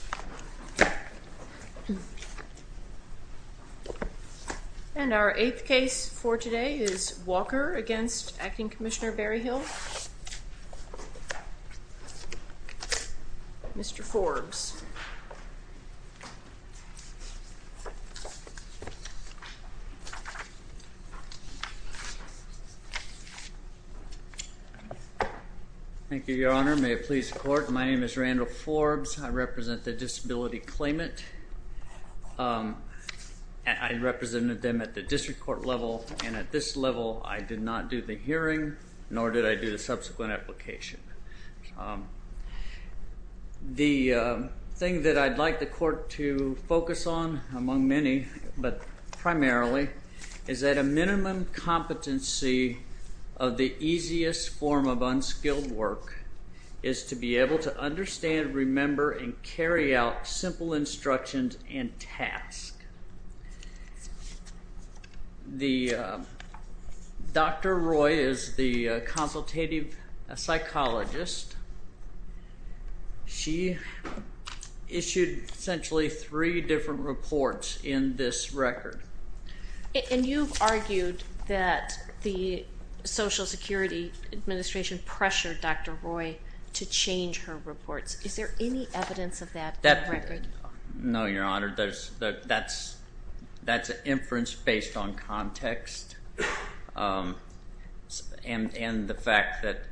8. Walker v. Acting Commissioner Berryhill 9. Mr. Forbes Thank you, Your Honor. May it please the Court, my name is Randall Forbes. I represent the disability claimant. I represented them at the district court level and at this level I did not do the hearing, nor did I do the subsequent application. The thing that I'd like the Court to focus on, among many, but primarily, is that a minimum competency of the easiest form of unskilled work is to be able to understand, remember, and carry out simple instructions and tasks. Dr. Roy is the consultative psychologist. She issued essentially three different reports in this record. And you've argued that the Social Security Administration pressured Dr. Roy to change her reports. Is there any evidence of that in the record? No, Your Honor. That's an inference based on context and the fact that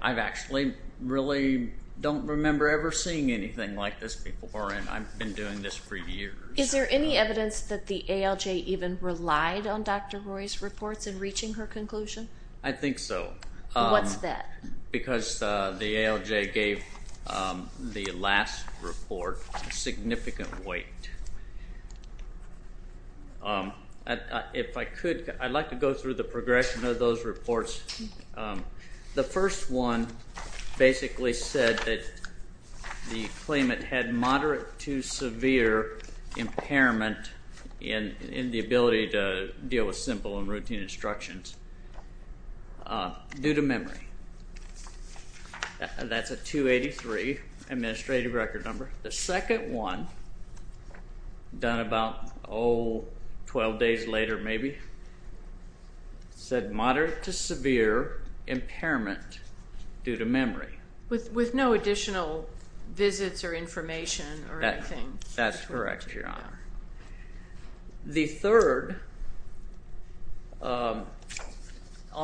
I actually really don't remember ever seeing anything like this before and I've been doing this for years. Is there any evidence that the ALJ even relied on Dr. Roy's reports in reaching her conclusion? I think so. What's that? Because the ALJ gave the last report significant weight. If I could, I'd like to go through the progression of those reports. The first one basically said that the claimant had moderate to severe impairment in the ability to deal with simple and routine instructions due to memory. That's a 283 administrative record number. The second one, done about 12 days later maybe, said moderate to severe impairment due to memory. With no additional visits or information or anything? That's correct, Your Honor. The third all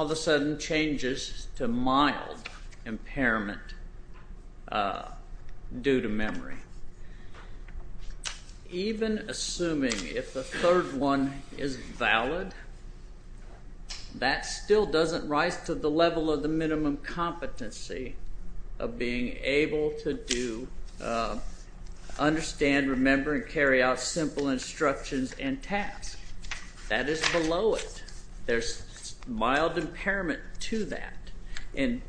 of a sudden changes to mild impairment due to memory. Even assuming if the third one is valid, that still doesn't rise to the level of the minimum competency of being able to understand, remember, and carry out simple instructions and tasks. That is below it. There's mild impairment to that and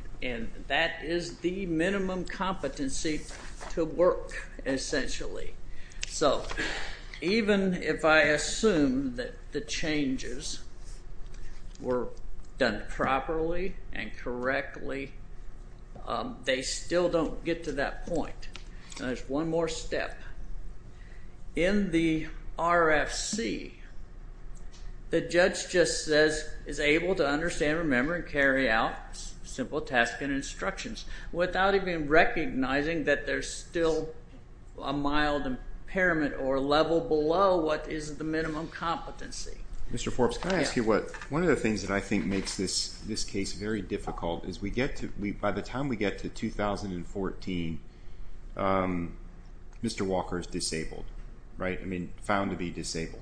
that is the minimum competency to work, essentially. So even if I assume that the changes were done properly and correctly, they still don't get to that point. There's one more step. In the RFC, the judge just says, is able to understand, remember, and carry out simple tasks and instructions without even recognizing that there's still a mild impairment or level below what is the minimum competency. Mr. Forbes, can I ask you what, one of the things that I think makes this case very difficult is we get to, by the time we get to 2014, Mr. Walker is disabled, right? I mean, found to be disabled.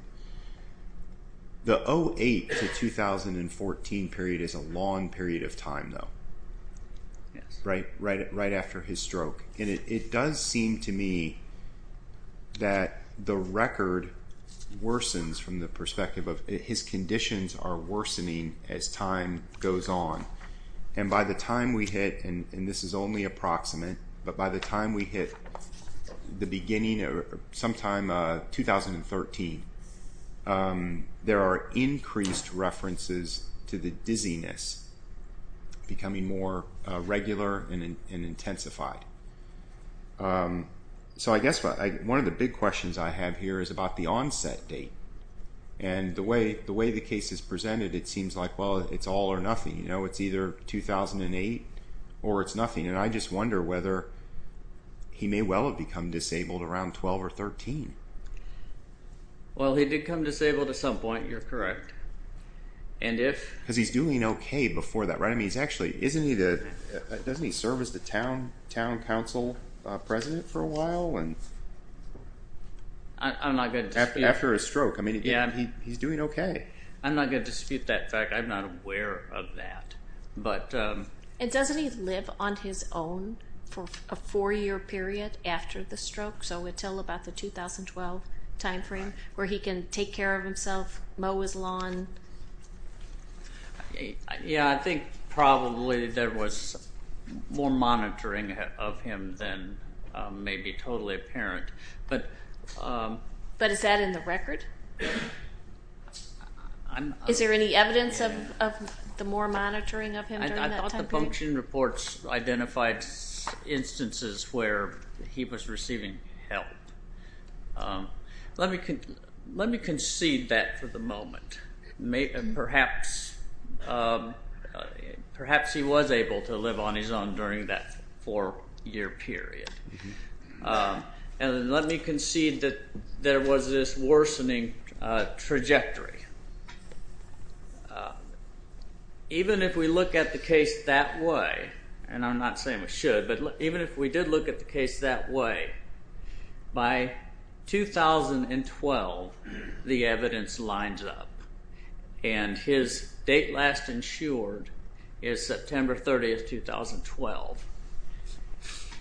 The 08 to 2014 period is a long period of time though, right after his conditions are worsening as time goes on. And by the time we hit, and this is only approximate, but by the time we hit the beginning of sometime 2013, there are increased references to the dizziness becoming more regular and intensified. So I guess one of the big questions I have here is about the onset date. And the way the case is presented, it seems like, well, it's all or nothing. You know, it's either 2008 or it's nothing. And I just wonder whether he may well have become disabled around 12 or 13. Well, he did become disabled at some point, you're correct. And if... Because he's doing okay before that, right? I mean, he's actually, isn't he the, doesn't he serve as the town council president for a while? I'm not going to dispute that fact. I'm not aware of that. And doesn't he live on his own for a four-year period after the stroke? So until about the 2012 time frame where he can take care of himself, mow his lawn? Yeah, I think probably there was more monitoring of him than may be totally apparent, but... But is that in the record? Is there any evidence of the more monitoring of him during that time frame? I thought the function reports identified instances where he was receiving help. Let me concede that for the moment. Perhaps he was able to live on his own during that four-year period. And let me concede that there was this worsening trajectory. Even if we look at the case that way, and I'm not saying we should, but even if we did look at the case that way, by 2012 the evidence lines up. And his date last insured is September 30, 2012.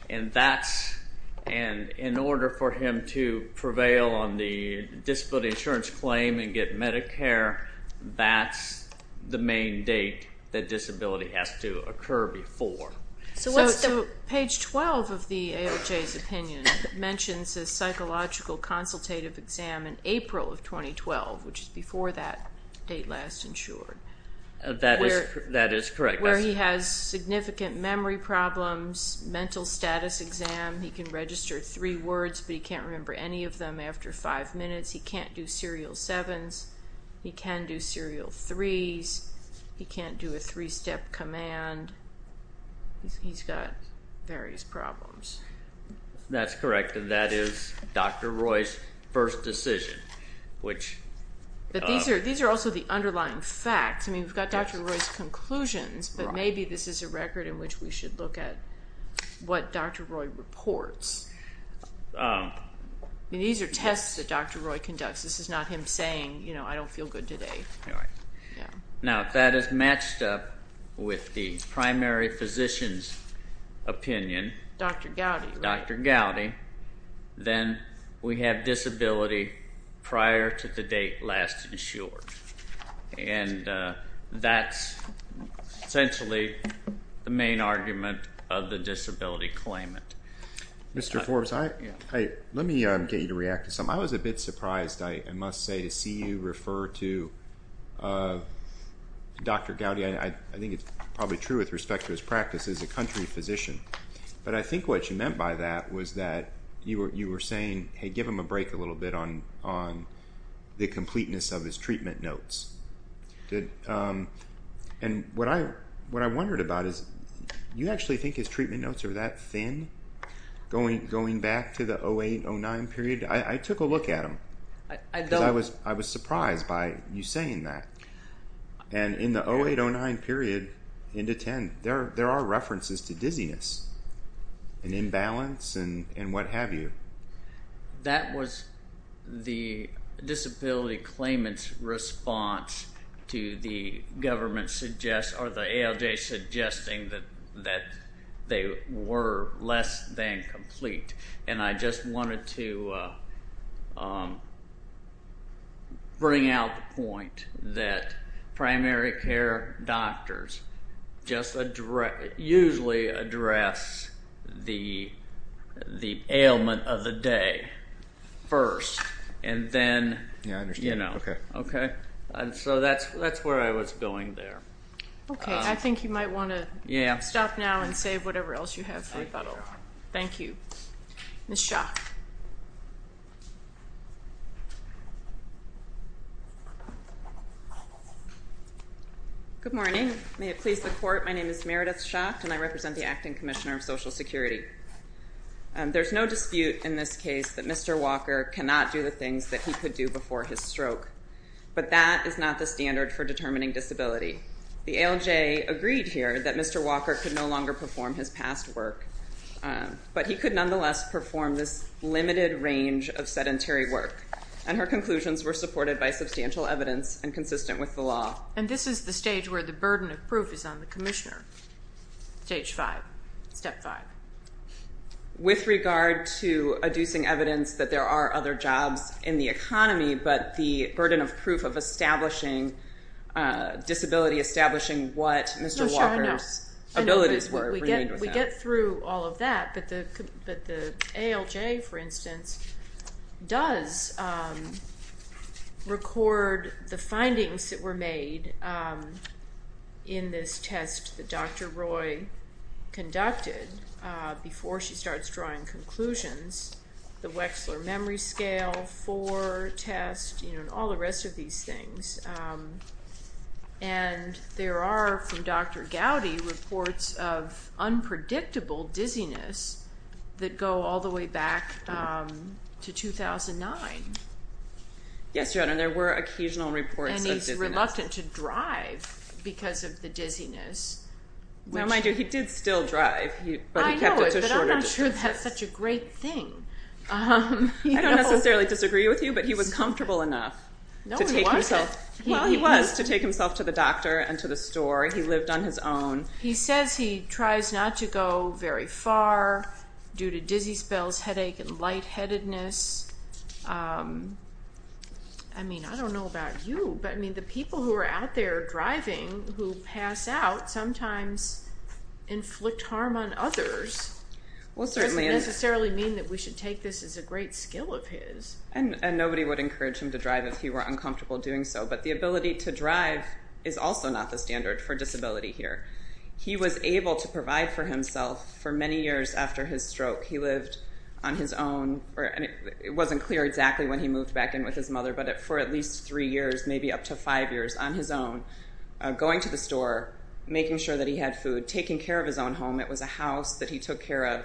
And that's, and in order for him to prevail on the disability insurance claim and get Medicare, that's the main date that disability has to occur before. So what's the... So page 12 of the AOJ's opinion mentions a psychological consultative exam in April of 2012, which is before that date last insured. That is correct. Where he has significant memory problems, mental status exam. He can register three words, but he can't remember any of them after five minutes. He can't do serial sevens. He can do serial threes. He can't do a three-step command. He's got various problems. That's correct, and that is Dr. Roy's first decision, which... These are also the underlying facts. I mean, we've got Dr. Roy's conclusions, but maybe this is a record in which we should look at what Dr. Roy reports. These are tests that Dr. Roy conducts. This is not him saying, you know, I don't feel good today. All right. Now, if that is matched up with the primary physician's opinion... Dr. Gowdy. Dr. Gowdy, then we have disability prior to the date last insured, and that's essentially the main argument of the disability claimant. Mr. Forbes, let me get you to react to something. I was a bit surprised, I must say, to see you refer to Dr. Gowdy. I think it's probably true with respect to his practice as a country physician, but I think what you meant by that was that you were saying, hey, give him a break a little bit on the completeness of his treatment notes. What I wondered about is, you actually think his treatment notes are that thin going back to the 08, 09 period? I took a look at them, because I was surprised by you saying that. In the 08, 09 period into 10, there are references to dizziness and imbalance and what have you. That was the disability claimant's response to the ALJ suggesting that they were less than complete, and I just wanted to bring out the point that primary care doctors usually address the ailment of the day first, and then, you know, okay? So that's where I was going there. Okay. I think you might want to stop now and save whatever else you have for rebuttal. Thank you. Ms. Schacht. Good morning. May it please the Court, my name is Meredith Schacht and I represent the Acting Commissioner of Social Security. There's no dispute in this case that Mr. Walker cannot do the things that he could do before his stroke, but that is not the standard for determining disability. The ALJ agreed here that Mr. Walker could no longer perform his past work, but he could nonetheless perform this limited range of sedentary work, and her conclusions were supported by substantial evidence and consistent with the law. And this is the stage where the burden of proof is on the Commissioner. Stage five. Step five. With regard to adducing evidence that there are other jobs in the economy, but the burden of proof of establishing disability, establishing what Mr. Walker's abilities were, remained with him. I'm not going to get through all of that, but the ALJ, for instance, does record the findings that were made in this test that Dr. Roy conducted before she starts drawing conclusions. The Wechsler memory scale, four test, and all the rest of these things. And there are, from Dr. Gowdy, reports of unpredictable dizziness that go all the way back to 2009. Yes, Your Honor, and there were occasional reports of dizziness. And he's reluctant to drive because of the dizziness. Now, mind you, he did still drive, but he kept it to shorter distances. I know, but I'm not sure that's such a great thing. I don't necessarily disagree with you, but he was comfortable enough to take himself Well, he was, to take himself to the doctor and to the store. He lived on his own. He says he tries not to go very far due to dizzy spells, headache, and lightheadedness. I mean, I don't know about you, but I mean, the people who are out there driving who pass out sometimes inflict harm on others, doesn't necessarily mean that we should take this as a great skill of his. And nobody would encourage him to drive if he were uncomfortable doing so, but the ability to drive is also not the standard for disability here. He was able to provide for himself for many years after his stroke. He lived on his own, and it wasn't clear exactly when he moved back in with his mother, but for at least three years, maybe up to five years on his own, going to the store, making sure that he had food, taking care of his own home. It was a house that he took care of,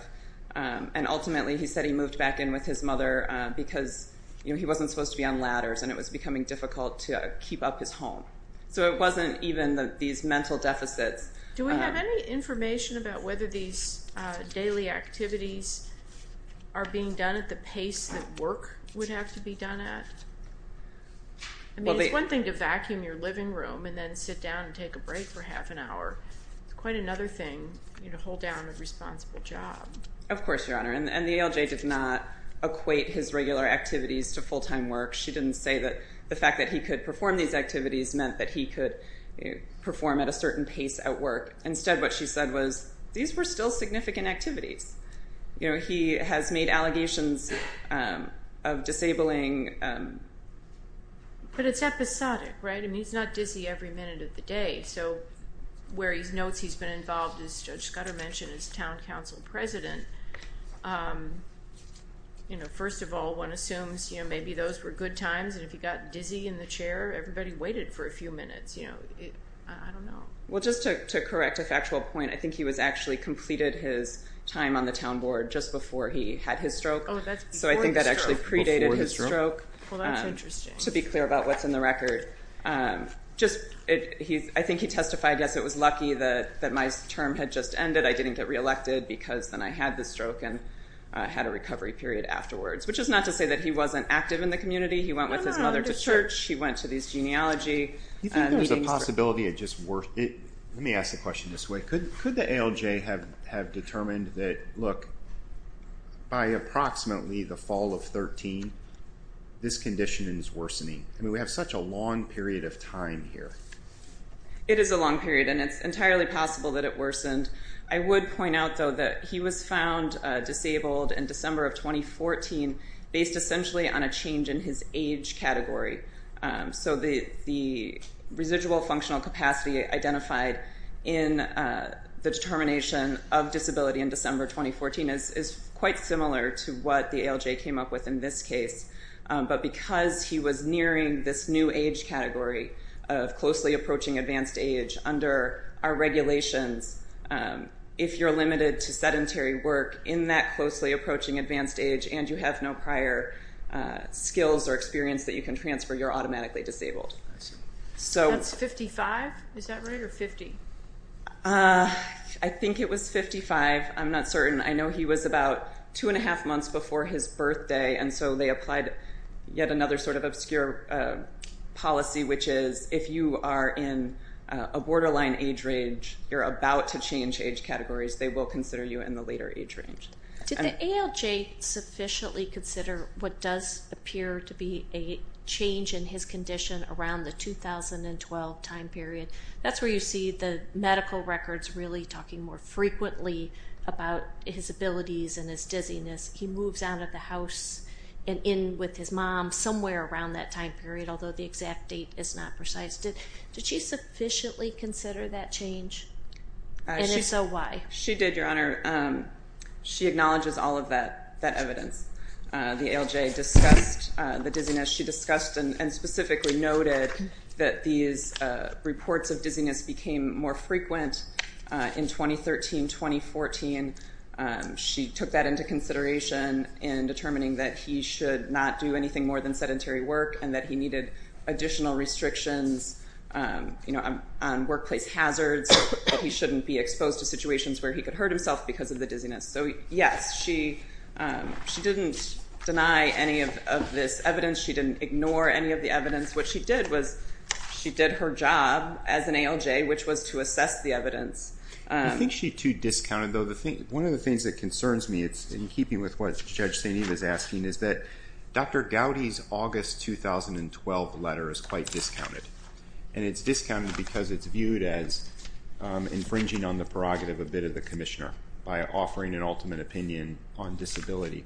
and ultimately, he said he moved back in with his mother because he wasn't supposed to be on ladders, and it was becoming difficult to keep up his home. So it wasn't even these mental deficits. Do we have any information about whether these daily activities are being done at the pace that work would have to be done at? I mean, it's one thing to vacuum your living room and then sit down and take a break for half an hour. It's quite another thing to hold down a responsible job. Of course, Your Honor, and the ALJ did not equate his regular activities to full-time work. She didn't say that the fact that he could perform these activities meant that he could perform at a certain pace at work. Instead, what she said was, these were still significant activities. He has made allegations of disabling... But it's episodic, right? I mean, he's not dizzy every minute of the day. So where he notes he's been involved, as Judge Scudder mentioned, is town council president. First of all, one assumes maybe those were good times, and if he got dizzy in the chair, everybody waited for a few minutes. I don't know. Well, just to correct a factual point, I think he was actually completed his time on the town board just before he had his stroke. So I think that actually predated his stroke, to be clear about what's in the record. Just, I think he testified, yes, it was lucky that my term had just ended. I didn't get re-elected because then I had the stroke and had a recovery period afterwards. Which is not to say that he wasn't active in the community. He went with his mother to church. He went to these genealogy meetings. You think there's a possibility it just wor... Let me ask the question this way. Could the ALJ have determined that, look, by approximately the fall of 13, this condition is worsening? I mean, we have such a long period of time here. It is a long period, and it's entirely possible that it worsened. I would point out, though, that he was found disabled in December of 2014 based essentially on a change in his age category. So the residual functional capacity identified in the determination of disability in December 2014 is quite similar to what the ALJ came up with in this case. But because he was nearing this new age category of closely approaching advanced age under our regulations, if you're limited to sedentary work in that closely approaching advanced age and you have no prior skills or experience that you can transfer, you're automatically disabled. That's 55, is that right, or 50? I think it was 55. I'm not certain. I know he was about two and a half months before his birthday, and so they applied yet another sort of obscure policy, which is if you are in a borderline age range, you're about to change age categories, they will consider you in the later age range. Did the ALJ sufficiently consider what does appear to be a change in his condition around the 2012 time period? That's where you see the medical records really talking more frequently about his abilities and his dizziness. He moves out of the house and in with his mom somewhere around that time period, although the exact date is not precise. Did she sufficiently consider that change, and if so, why? She did, Your Honor. She acknowledges all of that evidence. The ALJ discussed the dizziness. She discussed and specifically noted that these reports of dizziness became more frequent in 2013, 2014. She took that into consideration in determining that he should not do anything more than sedentary work and that he needed additional restrictions on workplace hazards, that he shouldn't be exposed to situations where he could hurt himself because of the dizziness. So yes, she didn't deny any of this evidence. She didn't ignore any of the evidence. What she did was she did her job as an ALJ, which was to assess the evidence. I think she too discounted, though, one of the things that concerns me, in keeping with what Judge St. Eve is asking, is that Dr. Gowdy's August 2012 letter is quite discounted. And it's discounted because it's viewed as infringing on the prerogative of a bit of the commissioner by offering an ultimate opinion on disability.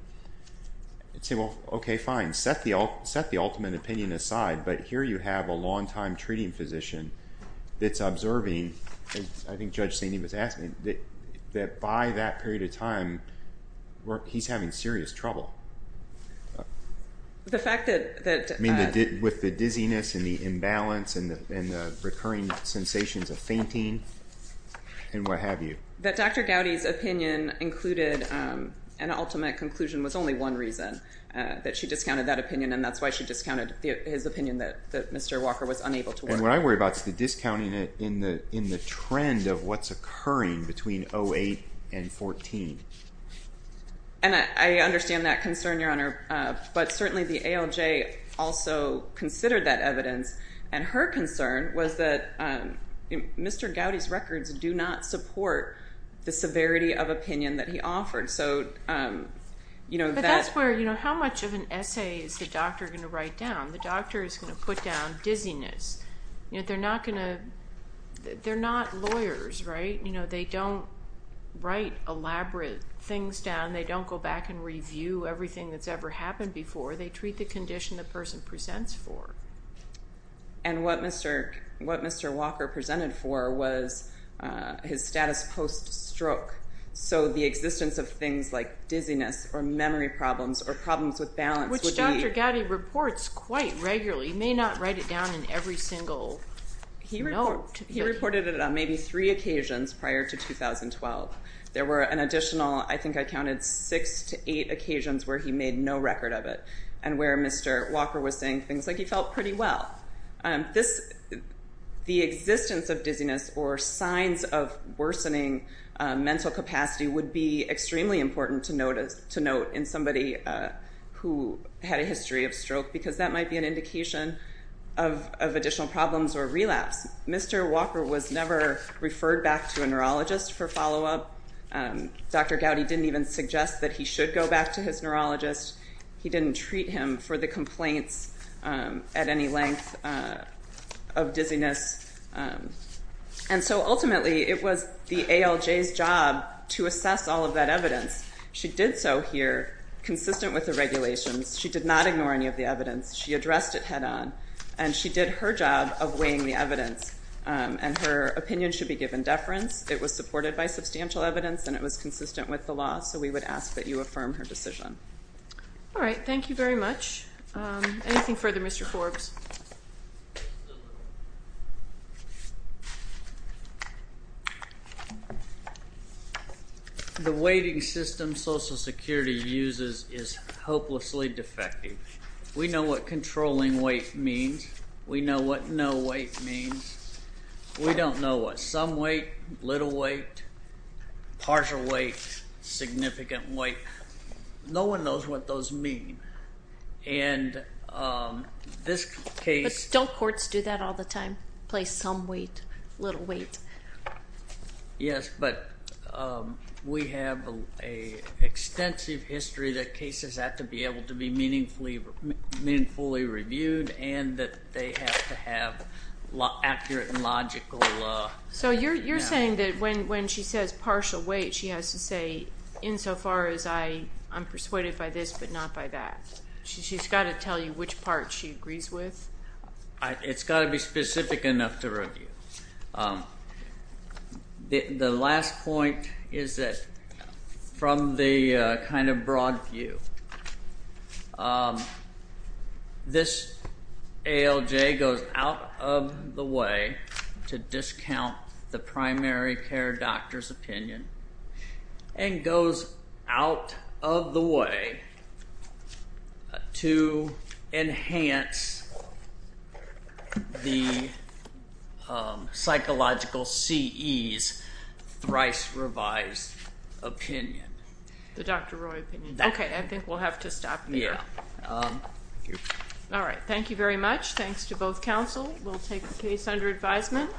I'd say, well, OK, fine. Set the ultimate opinion aside. But here you have a long-time treating physician that's observing, as I think Judge St. Eve is asking, that by that period of time, he's having serious trouble. The fact that— I mean, with the dizziness and the imbalance and the recurring sensations of fainting and what have you. That Dr. Gowdy's opinion included an ultimate conclusion was only one reason that she discounted that opinion. And that's why she discounted his opinion that Mr. Walker was unable to work. And what I worry about is the discounting in the trend of what's occurring between 2008 and 2014. And I understand that concern, Your Honor. But certainly the ALJ also considered that evidence. And her concern was that Mr. Gowdy's records do not support the severity of opinion that he offered. So, you know— But that's where, you know, how much of an essay is the doctor going to write down? The doctor is going to put down dizziness. They're not going to—they're not lawyers, right? You know, they don't write elaborate things down. They don't go back and review everything that's ever happened before. They treat the condition the person presents for. And what Mr. Walker presented for was his status post-stroke. So the existence of things like dizziness or memory problems or problems with balance would be— Which Dr. Gowdy reports quite regularly. He may not write it down in every single note. He reported it on maybe three occasions prior to 2012. There were an additional, I think I counted, six to eight occasions where he made no record of it and where Mr. Walker was saying things like he felt pretty well. The existence of dizziness or signs of worsening mental capacity would be extremely important to note in somebody who had a history of stroke because that might be an indication of additional problems or relapse. Mr. Walker was never referred back to a neurologist for follow-up. Dr. Gowdy didn't even suggest that he should go back to his neurologist. He didn't treat him for the complaints at any length of dizziness. And so ultimately, it was the ALJ's job to assess all of that evidence. She did so here, consistent with the regulations. She did not ignore any of the evidence. She addressed it head-on, and she did her job of weighing the evidence, and her opinion should be given deference. It was supported by substantial evidence, and it was consistent with the law. So we would ask that you affirm her decision. All right. Thank you very much. Anything further, Mr. Forbes? The weighting system Social Security uses is hopelessly defective. We know what controlling weight means. We know what no weight means. We don't know what some weight, little weight, partial weight, significant weight. No one knows what those mean. And this case... But don't courts do that all the time, place some weight, little weight? Yes, but we have an extensive history that cases have to be able to be meaningfully reviewed, and that they have to have accurate and logical... So you're saying that when she says partial weight, she has to say, insofar as I'm persuaded by this, but not by that. She's got to tell you which part she agrees with? It's got to be specific enough to review. The last point is that, from the kind of broad view, this ALJ goes out of the way to discount the primary care doctor's opinion, and goes out of the way to enhance the psychological CE's thrice revised opinion. The Dr. Roy opinion. Okay, I think we'll have to stop there. All right, thank you very much. Thanks to both counsel. We'll take the case under advisement.